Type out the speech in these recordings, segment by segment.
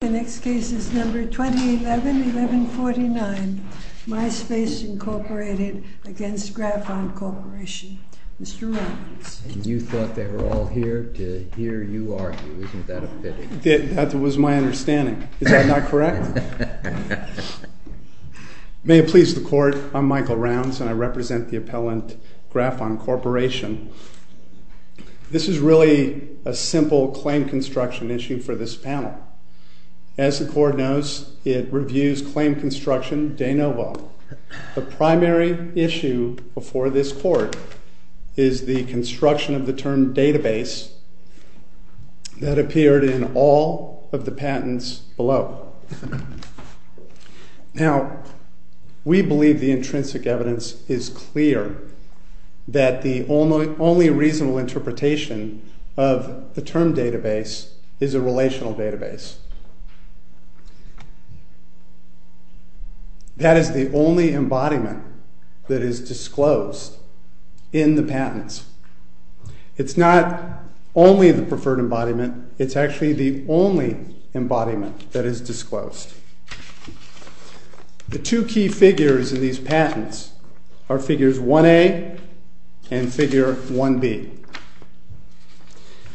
The next case is number 2011-1149, MySpace Incorporated v. Graphon Corporation. Mr. Rounds. And you thought they were all here to hear you argue, isn't that a pity? That was my understanding. Is that not correct? May it please the Court, I'm Michael Rounds and I represent the appellant, Graphon Corporation. This is really a simple claim construction issue for this panel. As the Court knows, it reviews claim construction de novo. The primary issue before this Court is the construction of the term database that appeared in all of the patents below. Now, we believe the intrinsic evidence is clear that the only reasonable interpretation of the term database is a relational database. That is the only embodiment that is disclosed in the patents. It's not only the preferred embodiment, it's actually the only embodiment that is disclosed. The two key figures in these patents are figures 1A and figure 1B.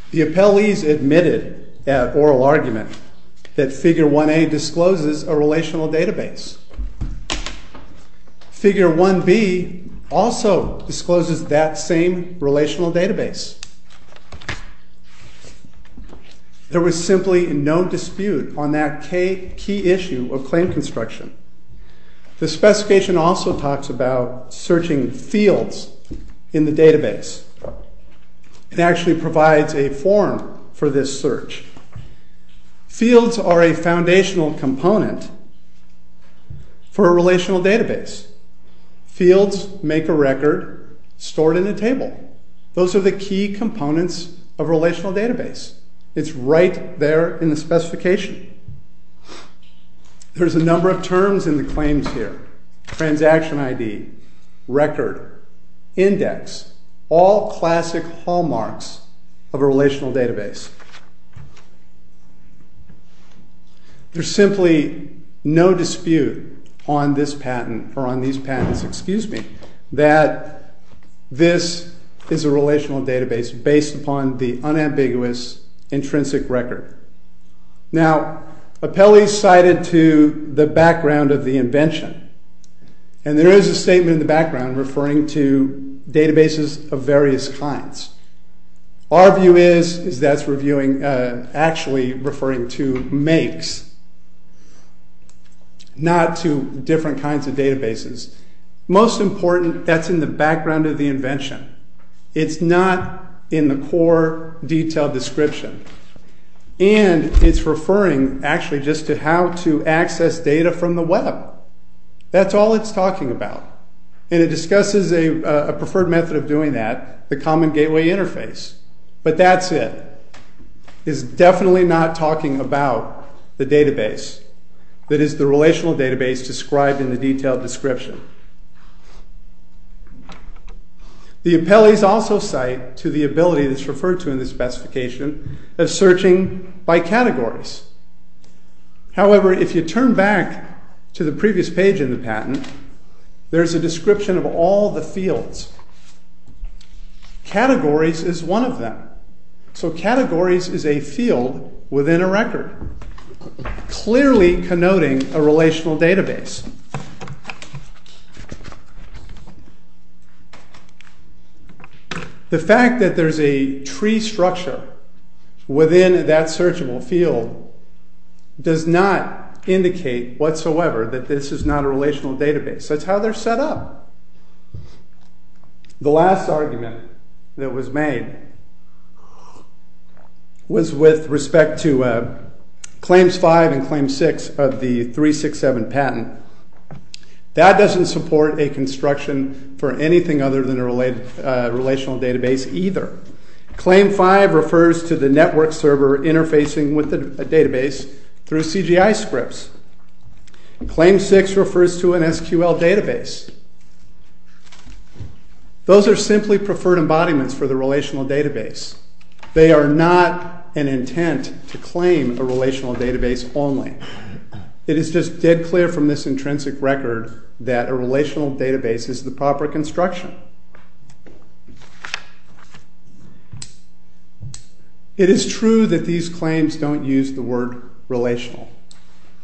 The appellees admitted at oral argument that figure 1A discloses a relational database. Figure 1B also discloses that same relational database. There was simply no dispute on that key issue of claim construction. The specification also talks about searching fields in the database. It actually provides a form for this search. Fields are a foundational component for a relational database. Fields make a record stored in a table. Those are the key components of a relational database. It's right there in the specification. There's a number of terms in the claims here. Transaction ID, record, index, all classic hallmarks of a relational database. There's simply no dispute on these patents that this is a relational database based upon the unambiguous intrinsic record. Appellees cited to the background of the invention. There is a statement in the background referring to databases of various kinds. Our view is that's actually referring to makes, not to different kinds of databases. Most important, that's in the background of the invention. It's not in the core detailed description. And it's referring actually just to how to access data from the web. That's all it's talking about. And it discusses a preferred method of doing that, the common gateway interface. But that's it. It's definitely not talking about the database that is the relational database described in the detailed description. The appellees also cite to the ability that's referred to in this specification of searching by categories. However, if you turn back to the previous page in the patent, there's a description of all the fields. Categories is one of them. So categories is a field within a record, clearly connoting a relational database. The fact that there's a tree structure within that searchable field does not indicate whatsoever that this is not a relational database. That's how they're set up. The last argument that was made was with respect to Claims 5 and Claims 6 of the 367 patent. That doesn't support a construction for anything other than a relational database either. Claim 5 refers to the network server interfacing with the database through CGI scripts. Claim 6 refers to an SQL database. Those are simply preferred embodiments for the relational database. They are not an intent to claim a relational database only. It is just dead clear from this intrinsic record that a relational database is the proper construction. It is true that these claims don't use the word relational.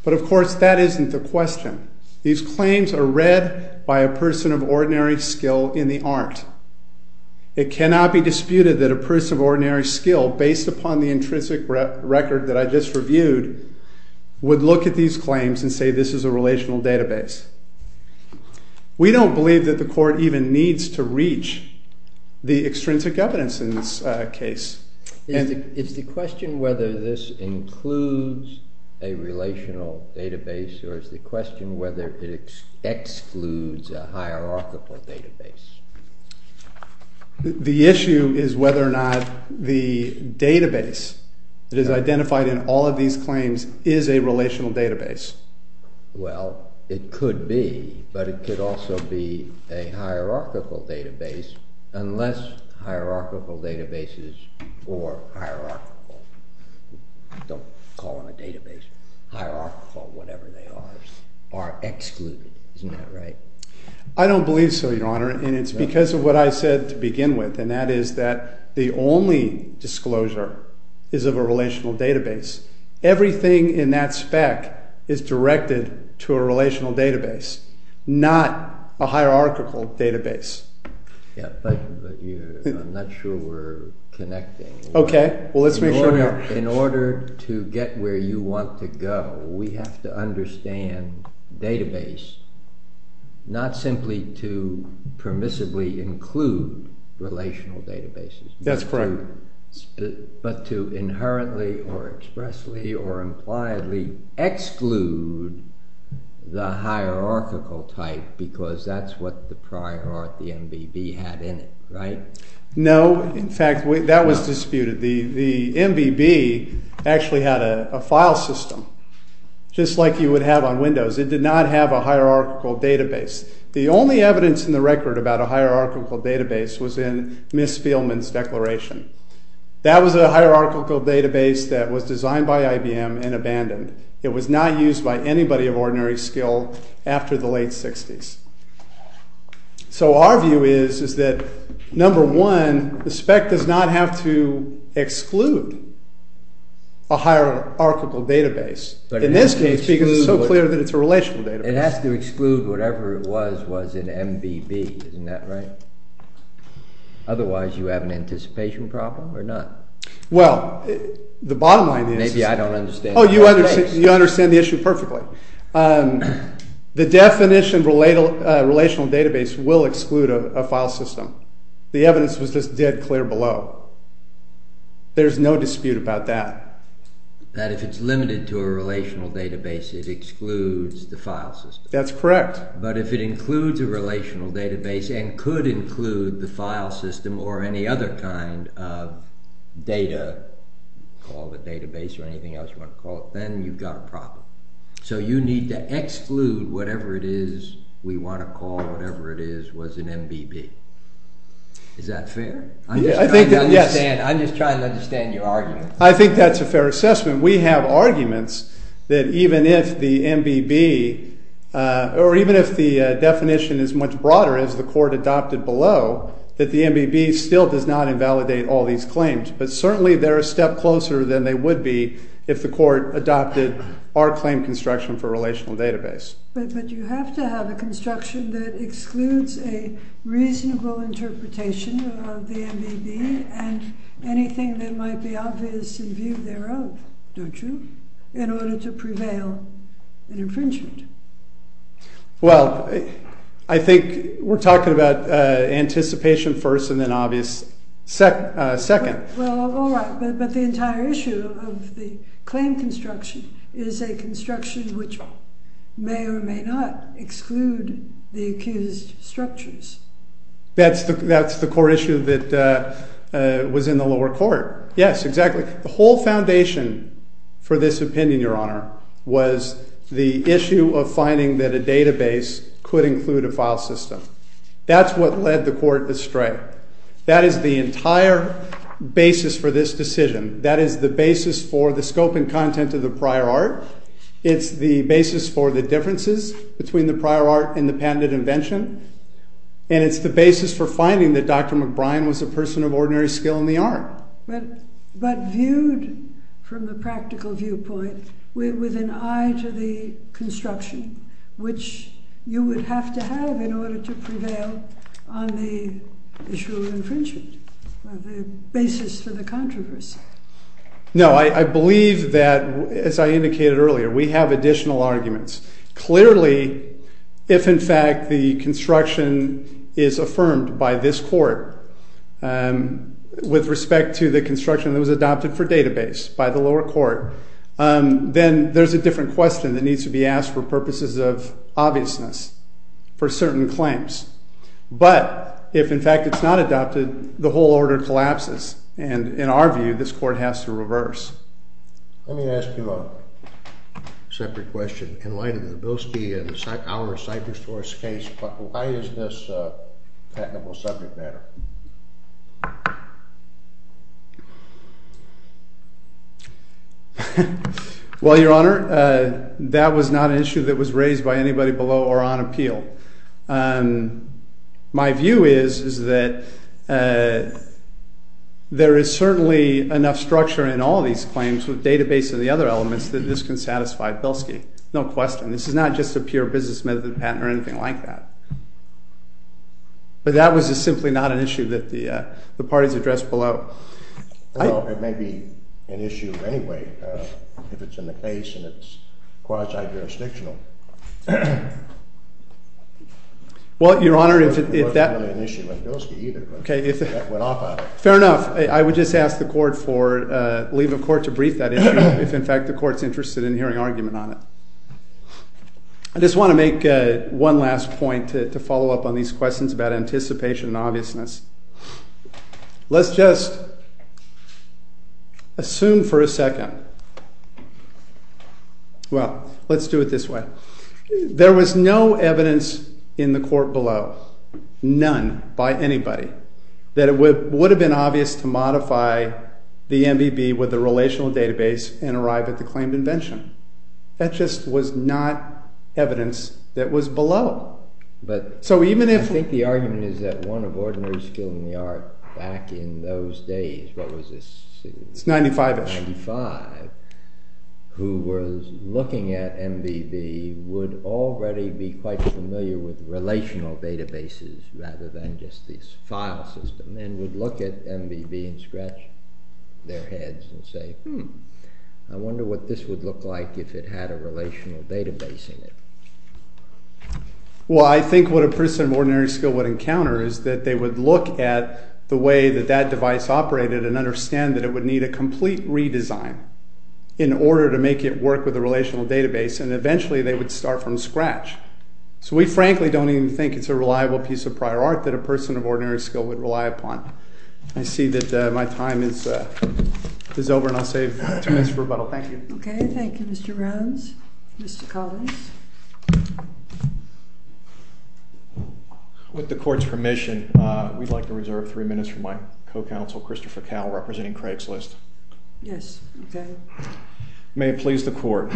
But of course, that isn't the question. These claims are read by a person of ordinary skill in the art. It cannot be disputed that a person of ordinary skill, based upon the intrinsic record that I just reviewed, would look at these claims and say this is a relational database. We don't believe that the Court even needs to reach the extrinsic evidence in this case. Is the question whether this includes a relational database or is the question whether it excludes a hierarchical database? The issue is whether or not the database that is identified in all of these claims is a relational database. Well, it could be. But it could also be a hierarchical database unless hierarchical databases or hierarchical, don't call them a database, hierarchical, whatever they are, are excluded. Isn't that right? I don't believe so, Your Honor. And it's because of what I said to begin with. And that is that the only disclosure is of a relational database. Everything in that spec is directed to a relational database, not a hierarchical database. Yeah, but I'm not sure we're connecting. Okay, well let's make sure we are. In order to get where you want to go, we have to understand database, not simply to permissibly include relational databases. That's correct. But to inherently or expressly or impliedly exclude the hierarchical type because that's what the prior art, the MBB, had in it, right? No, in fact, that was disputed. The MBB actually had a file system just like you would have on Windows. It did not have a hierarchical database. The only evidence in the record about a hierarchical database was in Ms. Spielman's declaration. That was a hierarchical database that was designed by IBM and abandoned. It was not used by anybody of ordinary skill after the late 60s. So our view is that, number one, the spec does not have to exclude a hierarchical database. In this case, because it's so clear that it's a relational database. It has to exclude whatever it was in MBB, isn't that right? Otherwise you have an anticipation problem or not? Well, the bottom line is... Maybe I don't understand... Oh, you understand the issue perfectly. The definition of a relational database will exclude a file system. The evidence was just dead clear below. There's no dispute about that. That if it's limited to a relational database, it excludes the file system. That's correct. But if it includes a relational database and could include the file system or any other kind of data, call it a database or anything else you want to call it, then you've got a problem. So you need to exclude whatever it is we want to call whatever it is was in MBB. Is that fair? I'm just trying to understand your argument. I think that's a fair assessment. We have arguments that even if the definition is much broader as the court adopted below, that the MBB still does not invalidate all these claims. But certainly they're a step closer than they would be if the court adopted our claim construction for relational database. But you have to have a construction that excludes a reasonable interpretation of the MBB and anything that might be obvious in view thereof, don't you, in order to prevail an infringement? Well, I think we're talking about anticipation first and then obvious second. Well, all right. But the entire issue of the claim construction is a construction which may or may not exclude the accused structures. That's the core issue that was in the lower court. Yes, exactly. The whole foundation for this opinion, Your Honor, was the issue of finding that a database could include a file system. That's what led the court astray. That is the entire basis for this decision. That is the basis for the scope and content of the prior art. It's the basis for the differences between the prior art and the patented invention. And it's the basis for finding that Dr. McBride was a person of ordinary skill in the art. But viewed from the practical viewpoint with an eye to the construction, which you would have to have in order to prevail on the issue of infringement, the basis for the controversy. No, I believe that, as I indicated earlier, we have additional arguments. Clearly, if, in fact, the construction is affirmed by this court with respect to the construction that was adopted for database by the lower court, then there's a different question that needs to be asked for purposes of obviousness for certain claims. But if, in fact, it's not adopted, the whole order collapses. And in our view, this court has to reverse. Let me ask you a separate question. In light of the Bilski and our cipher source case, why is this a patentable subject matter? Well, Your Honor, that was not an issue that was raised by anybody below or on appeal. My view is that there is certainly enough structure in all these claims with database and the other elements that this can satisfy Bilski. No question. This is not just a pure business method patent or anything like that. But that was just simply not an issue that the parties addressed below. Well, it may be an issue anyway if it's in the case and it's quasi-jurisdictional. Well, Your Honor, if that— It wasn't really an issue on Bilski either, but that went off on it. Fair enough. I would just ask the court for—leave of court to brief that issue if, in fact, the court's interested in hearing argument on it. I just want to make one last point to follow up on these questions about anticipation and obviousness. Let's just assume for a second—well, let's do it this way. There was no evidence in the court below, none by anybody, that it would have been obvious to modify the MBB with the relational database and arrive at the claimed invention. That just was not evidence that was below. But— So even if— be quite familiar with relational databases rather than just this file system and would look at MBB and scratch their heads and say, hmm, I wonder what this would look like if it had a relational database in it. Well, I think what a person of ordinary skill would encounter is that they would look at the way that that device operated and understand that it would need a complete redesign in order to make it work with a relational database. And eventually they would start from scratch. So we frankly don't even think it's a reliable piece of prior art that a person of ordinary skill would rely upon. I see that my time is over, and I'll save two minutes for rebuttal. Thank you. Okay, thank you, Mr. Browns. Mr. Collins? With the court's permission, we'd like to reserve three minutes for my co-counsel, Christopher Cowell, representing Craigslist. Yes, okay. May it please the court,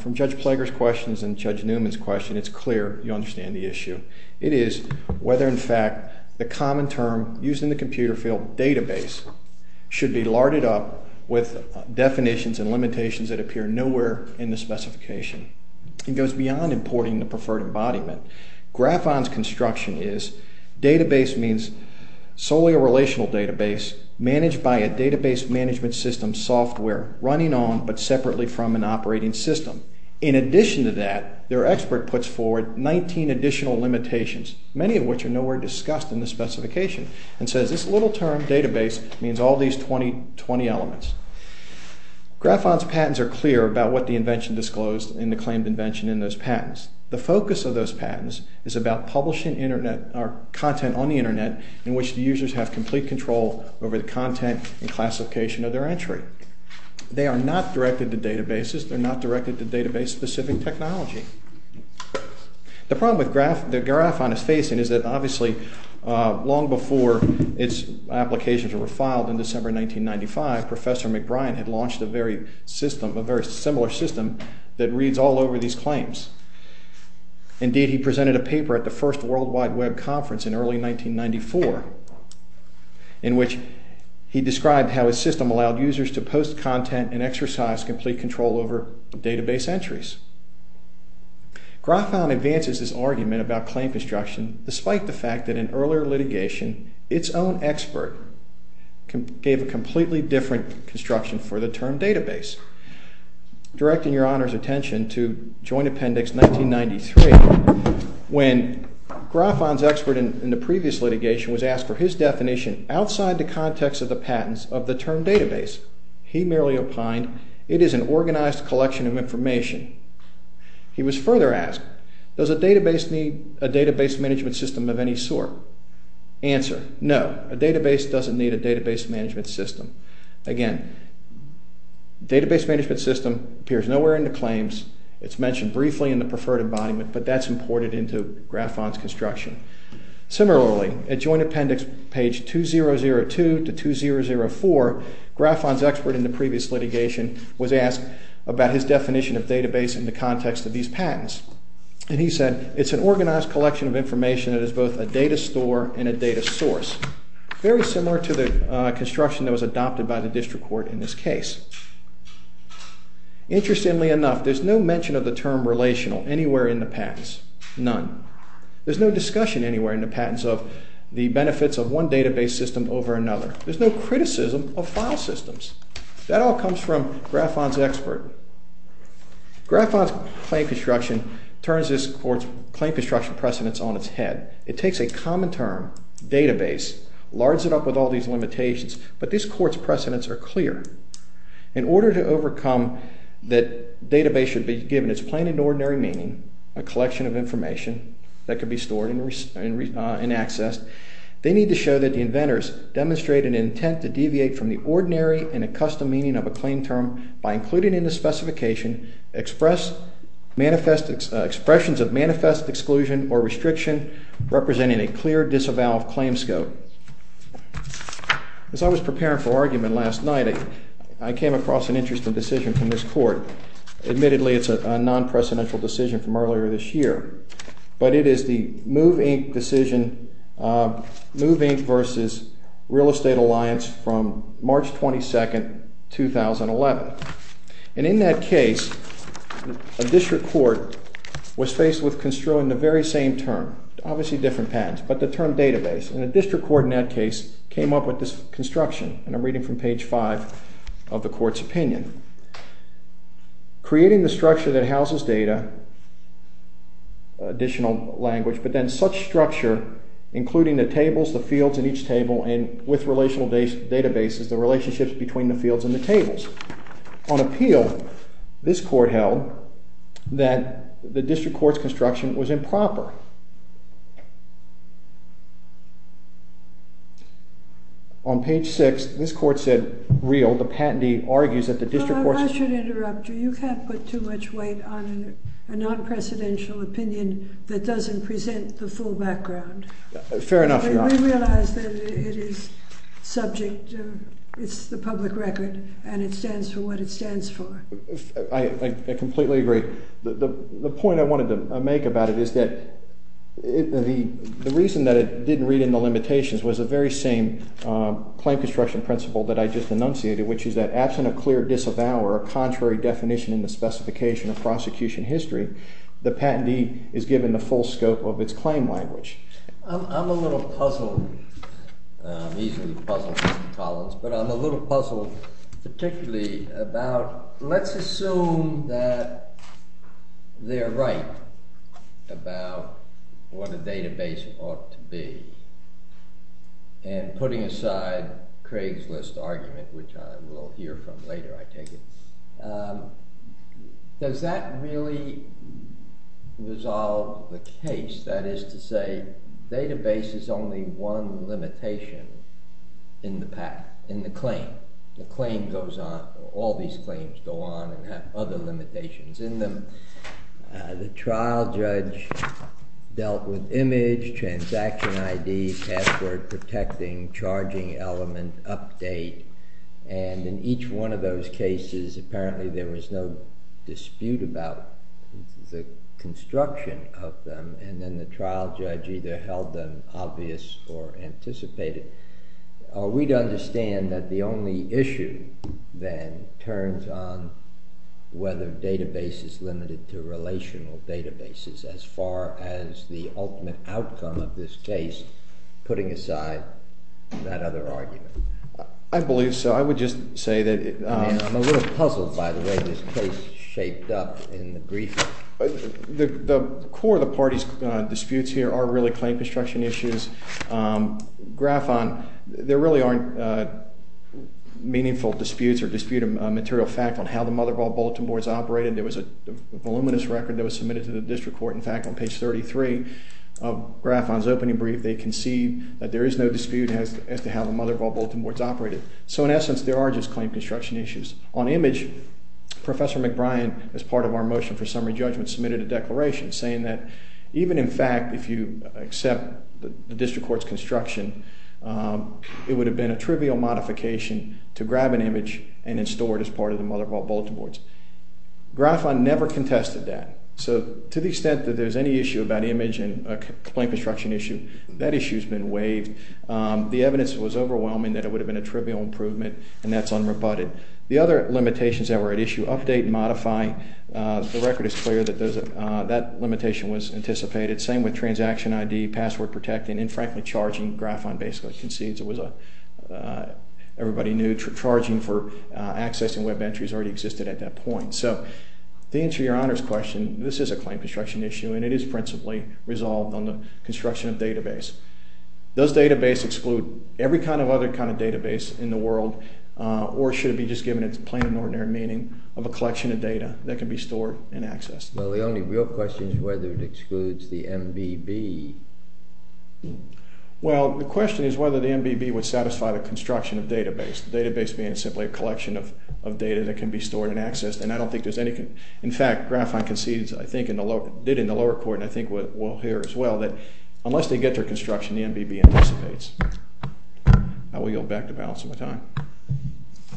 from Judge Plager's questions and Judge Newman's question, it's clear you understand the issue. It is whether, in fact, the common term used in the computer field, database, should be larded up with definitions and limitations that appear nowhere in the specification. It goes beyond importing the preferred embodiment. Graphon's construction is database means solely a relational database managed by a database management system software running on but separately from an operating system. In addition to that, their expert puts forward 19 additional limitations, many of which are nowhere discussed in the specification, and says this little term, database, means all these 20 elements. Graphon's patents are clear about what the invention disclosed in the claimed invention in those patents. The focus of those patents is about publishing content on the Internet in which the users have complete control over the content and classification of their entry. They are not directed to databases. They're not directed to database-specific technology. The problem that Graphon is facing is that, obviously, long before its applications were filed in December 1995, Professor McBrien had launched a very similar system that reads all over these claims. Indeed, he presented a paper at the first World Wide Web conference in early 1994 in which he described how his system allowed users to post content and exercise complete control over database entries. Graphon advances his argument about claim construction despite the fact that in earlier litigation, its own expert gave a completely different construction for the term database, directing Your Honor's attention to Joint Appendix 1993 when Graphon's expert in the previous litigation was asked for his definition outside the context of the patents of the term database. He merely opined, it is an organized collection of information. He was further asked, does a database need a database management system of any sort? Answer, no, a database doesn't need a database management system. Again, database management system appears nowhere in the claims. It's mentioned briefly in the preferred embodiment, but that's imported into Graphon's construction. Similarly, at Joint Appendix page 2002 to 2004, Graphon's expert in the previous litigation was asked about his definition of database in the context of these patents. And he said, it's an organized collection of information that is both a data store and a data source. Very similar to the construction that was adopted by the district court in this case. Interestingly enough, there's no mention of the term relational anywhere in the patents, none. There's no discussion anywhere in the patents of the benefits of one database system over another. There's no criticism of file systems. That all comes from Graphon's expert. Graphon's claim construction turns this court's claim construction precedents on its head. It takes a common term, database, lards it up with all these limitations, but this court's precedents are clear. In order to overcome that database should be given its plain and ordinary meaning, a collection of information that could be stored and accessed, they need to show that the inventors demonstrate an intent to deviate from the ordinary and accustomed meaning of a claim term by including in the specification expressions of manifest exclusion or restriction representing a clear disavowed claim scope. As I was preparing for argument last night, I came across an interesting decision from this court. Admittedly, it's a non-presidential decision from earlier this year, but it is the Move, Inc. decision, Move, Inc. versus Real Estate Alliance from March 22, 2011. And in that case, a district court was faced with construing the very same term, obviously different patents, but the term database. And a district court in that case came up with this construction, and I'm reading from page 5 of the court's opinion. Creating the structure that houses data, additional language, but then such structure, including the tables, the fields in each table, and with relational databases, the relationships between the fields and the tables. On appeal, this court held that the district court's construction was improper. On page 6, this court said, Real, the patentee argues that the district court... Well, I should interrupt you. You can't put too much weight on a non-presidential opinion that doesn't present the full background. Fair enough, Your Honor. We realize that it is subject, it's the public record, and it stands for what it stands for. I completely agree. The point I wanted to make about it is that the reason that it didn't read in the limitations was the very same claim construction principle that I just enunciated, which is that absent a clear disavower, a contrary definition in the specification of prosecution history, the patentee is given the full scope of its claim language. I'm a little puzzled, easily puzzled, Mr. Collins, but I'm a little puzzled particularly about, let's assume that they're right about what a database ought to be, and putting aside Craig's List argument, which I will hear from later, I take it, does that really resolve the case? That is to say, database is only one limitation in the claim. The claim goes on, all these claims go on and have other limitations in them. The trial judge dealt with image, transaction ID, password protecting, charging element, update, and in each one of those cases, apparently there was no dispute about the construction of them, and then the trial judge either held them obvious or anticipated. Are we to understand that the only issue, then, turns on whether database is limited to relational databases as far as the ultimate outcome of this case, putting aside that other argument? I believe so. I would just say that— I'm a little puzzled by the way this case is shaped up in the briefing. The core of the party's disputes here are really claim construction issues. Graphon, there really aren't meaningful disputes or dispute of material fact on how the mother of all bulletin boards operated. There was a voluminous record that was submitted to the district court. In fact, on page 33 of Graphon's opening brief, they concede that there is no dispute as to how the mother of all bulletin boards operated. So, in essence, there are just claim construction issues. On image, Professor McBrien, as part of our motion for summary judgment, submitted a declaration saying that even, in fact, if you accept the district court's construction, it would have been a trivial modification to grab an image and then store it as part of the mother of all bulletin boards. Graphon never contested that. So, to the extent that there's any issue about image and a claim construction issue, that issue's been waived. The evidence was overwhelming that it would have been a trivial improvement, and that's unrebutted. The other limitations that were at issue—update, modify—the record is clear that that limitation was anticipated. Same with transaction ID, password protecting, and, frankly, charging. Graphon basically concedes it was a—everybody knew charging for accessing web entries already existed at that point. So, to answer your Honor's question, this is a claim construction issue, and it is principally resolved on the construction of database. Does database exclude every kind of other kind of database in the world, or should it be just given its plain and ordinary meaning of a collection of data that can be stored and accessed? Well, the only real question is whether it excludes the MBB. Well, the question is whether the MBB would satisfy the construction of database, the database being simply a collection of data that can be stored and accessed. And I don't think there's any—in fact, Graphon concedes, I think, in the lower—did in the lower court, and I think what we'll hear as well, that unless they get their construction, the MBB anticipates. I will yield back the balance of my time.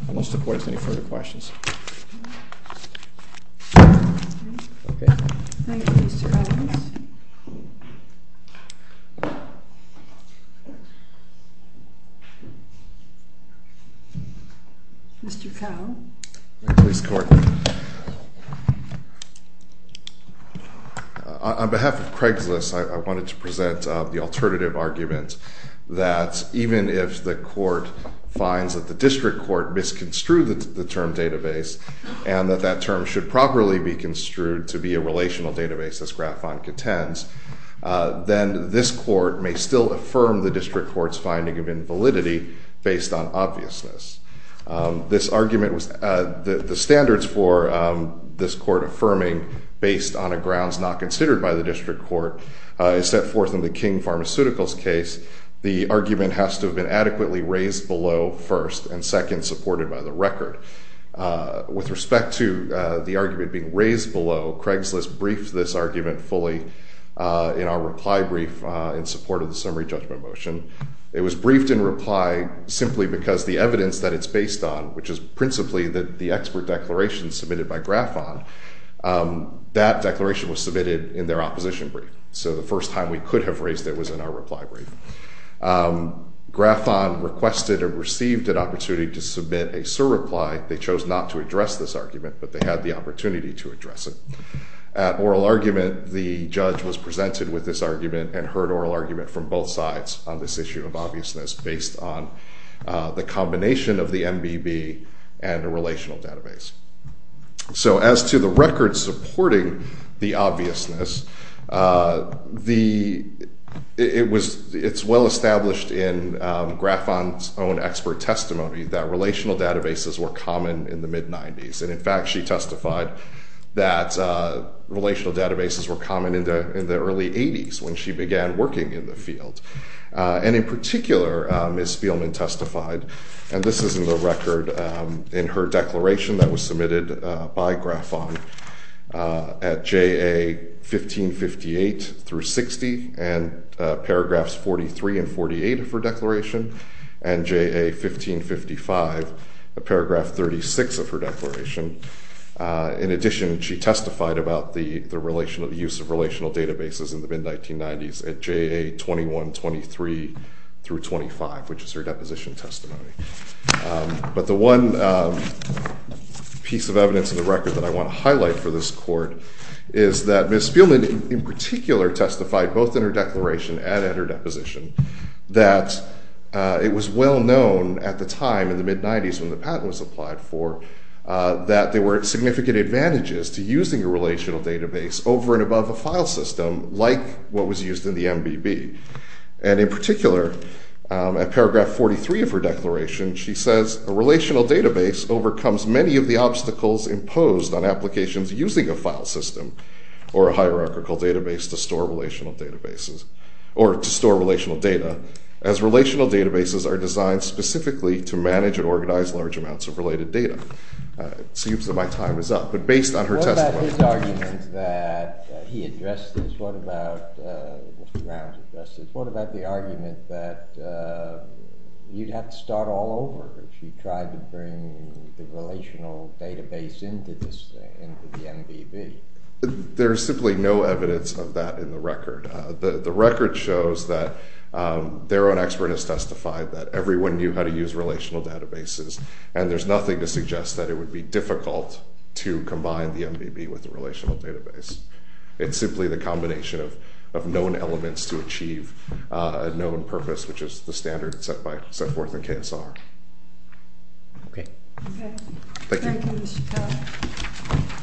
Unless the court has any further questions. Okay. Thank you, Mr. Adams. Mr. Cahill. Thank you, Mr. Court. On behalf of Craigslist, I wanted to present the alternative argument that even if the court finds that the district court misconstrued the term database and that that term should properly be construed to be a relational database, as Graphon contends, then this court may still affirm the district court's finding of invalidity based on obviousness. This argument was—the standards for this court affirming based on a grounds not considered by the district court is set forth in the King Pharmaceuticals case. The argument has to have been adequately raised below first and second supported by the record. With respect to the argument being raised below, Craigslist briefed this argument fully in our reply brief in support of the summary judgment motion. It was briefed in reply simply because the evidence that it's based on, which is principally the expert declaration submitted by Graphon, that declaration was submitted in their opposition brief. So the first time we could have raised it was in our reply brief. Graphon requested or received an opportunity to submit a surreply. They chose not to address this argument, but they had the opportunity to address it. At oral argument, the judge was presented with this argument and heard oral argument from both sides on this issue of obviousness based on the combination of the MBB and a relational database. So as to the record supporting the obviousness, it's well established in Graphon's own expert testimony that relational databases were common in the mid-90s. And in fact, she testified that relational databases were common in the early 80s when she began working in the field. And in particular, Ms. Spielman testified, and this is in the record in her declaration that was submitted by Graphon, at J.A. 1558 through 60 and paragraphs 43 and 48 of her declaration and J.A. 1555, paragraph 36 of her declaration. In addition, she testified about the use of relational databases in the mid-1990s at J.A. 2123 through 25, which is her deposition testimony. But the one piece of evidence in the record that I want to highlight for this court is that Ms. Spielman in particular testified both in her declaration and in her deposition that it was well known at the time in the mid-90s when the patent was applied for that there were significant advantages to using a relational database over and above a file system like what was used in the MBB. And in particular, at paragraph 43 of her declaration, she says, a relational database overcomes many of the obstacles imposed on applications using a file system or a hierarchical database to store relational databases, or to store relational data, as relational databases are designed specifically to manage and organize large amounts of related data. It seems that my time is up, but based on her testimony. What about his argument that he addressed this? What about Mr. Brown's address this? What about the argument that you'd have to start all over if you tried to bring the relational database into the MBB? There is simply no evidence of that in the record. The record shows that their own expert has testified that everyone knew how to use relational databases, and there's nothing to suggest that it would be difficult to combine the MBB with a relational database. It's simply the combination of known elements to achieve a known purpose, which is the standard set forth in KSR. Okay. Thank you. Thank you, Mr. Cowell.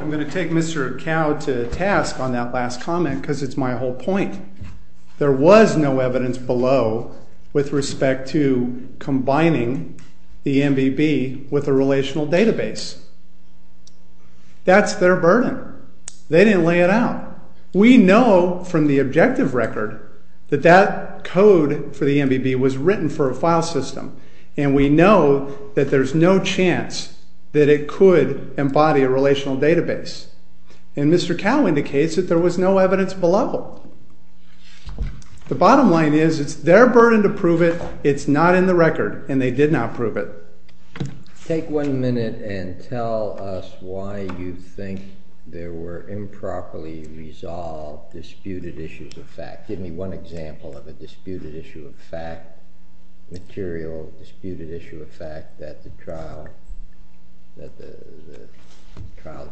I'm going to take Mr. Cowell to task on that last comment because it's my whole point. There was no evidence below with respect to combining the MBB with a relational database. That's their burden. They didn't lay it out. We know from the objective record that that code for the MBB was written for a file system, and we know that there's no chance that it could embody a relational database. And Mr. Cowell indicates that there was no evidence below. The bottom line is it's their burden to prove it. It's not in the record, and they did not prove it. Take one minute and tell us why you think there were improperly resolved disputed issues of fact. Give me one example of a disputed issue of fact, material disputed issue of fact, that the trial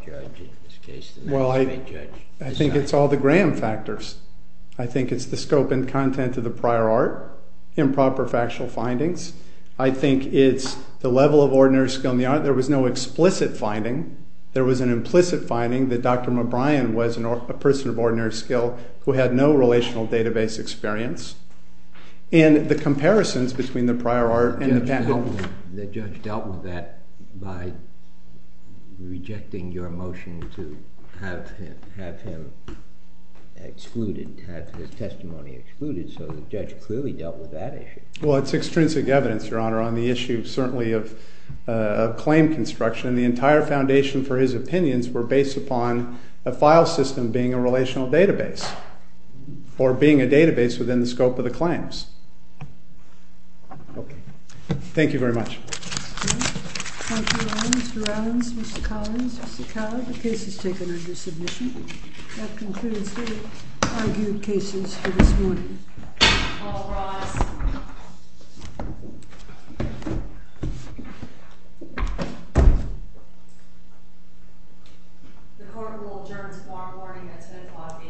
judge in this case, the magistrate judge, decided. Well, I think it's all the Graham factors. I think it's the scope and content of the prior art, improper factual findings. I think it's the level of ordinary skill in the art. There was no explicit finding. There was an implicit finding that Dr. McBrien was a person of ordinary skill who had no relational database experience. And the comparisons between the prior art and the patent. The judge dealt with that by rejecting your motion to have him excluded, have his testimony excluded. So the judge clearly dealt with that issue. Well, it's extrinsic evidence, Your Honor, on the issue certainly of claim construction. And the entire foundation for his opinions were based upon a file system being a relational database or being a database within the scope of the claims. Okay. Thank you very much. Thank you, Mr. Adams, Mr. Collins, Mr. Cowell. The case is taken under submission. That concludes the argued cases for this morning. All rise. The court will adjourn tomorrow morning at 10 o'clock a.m.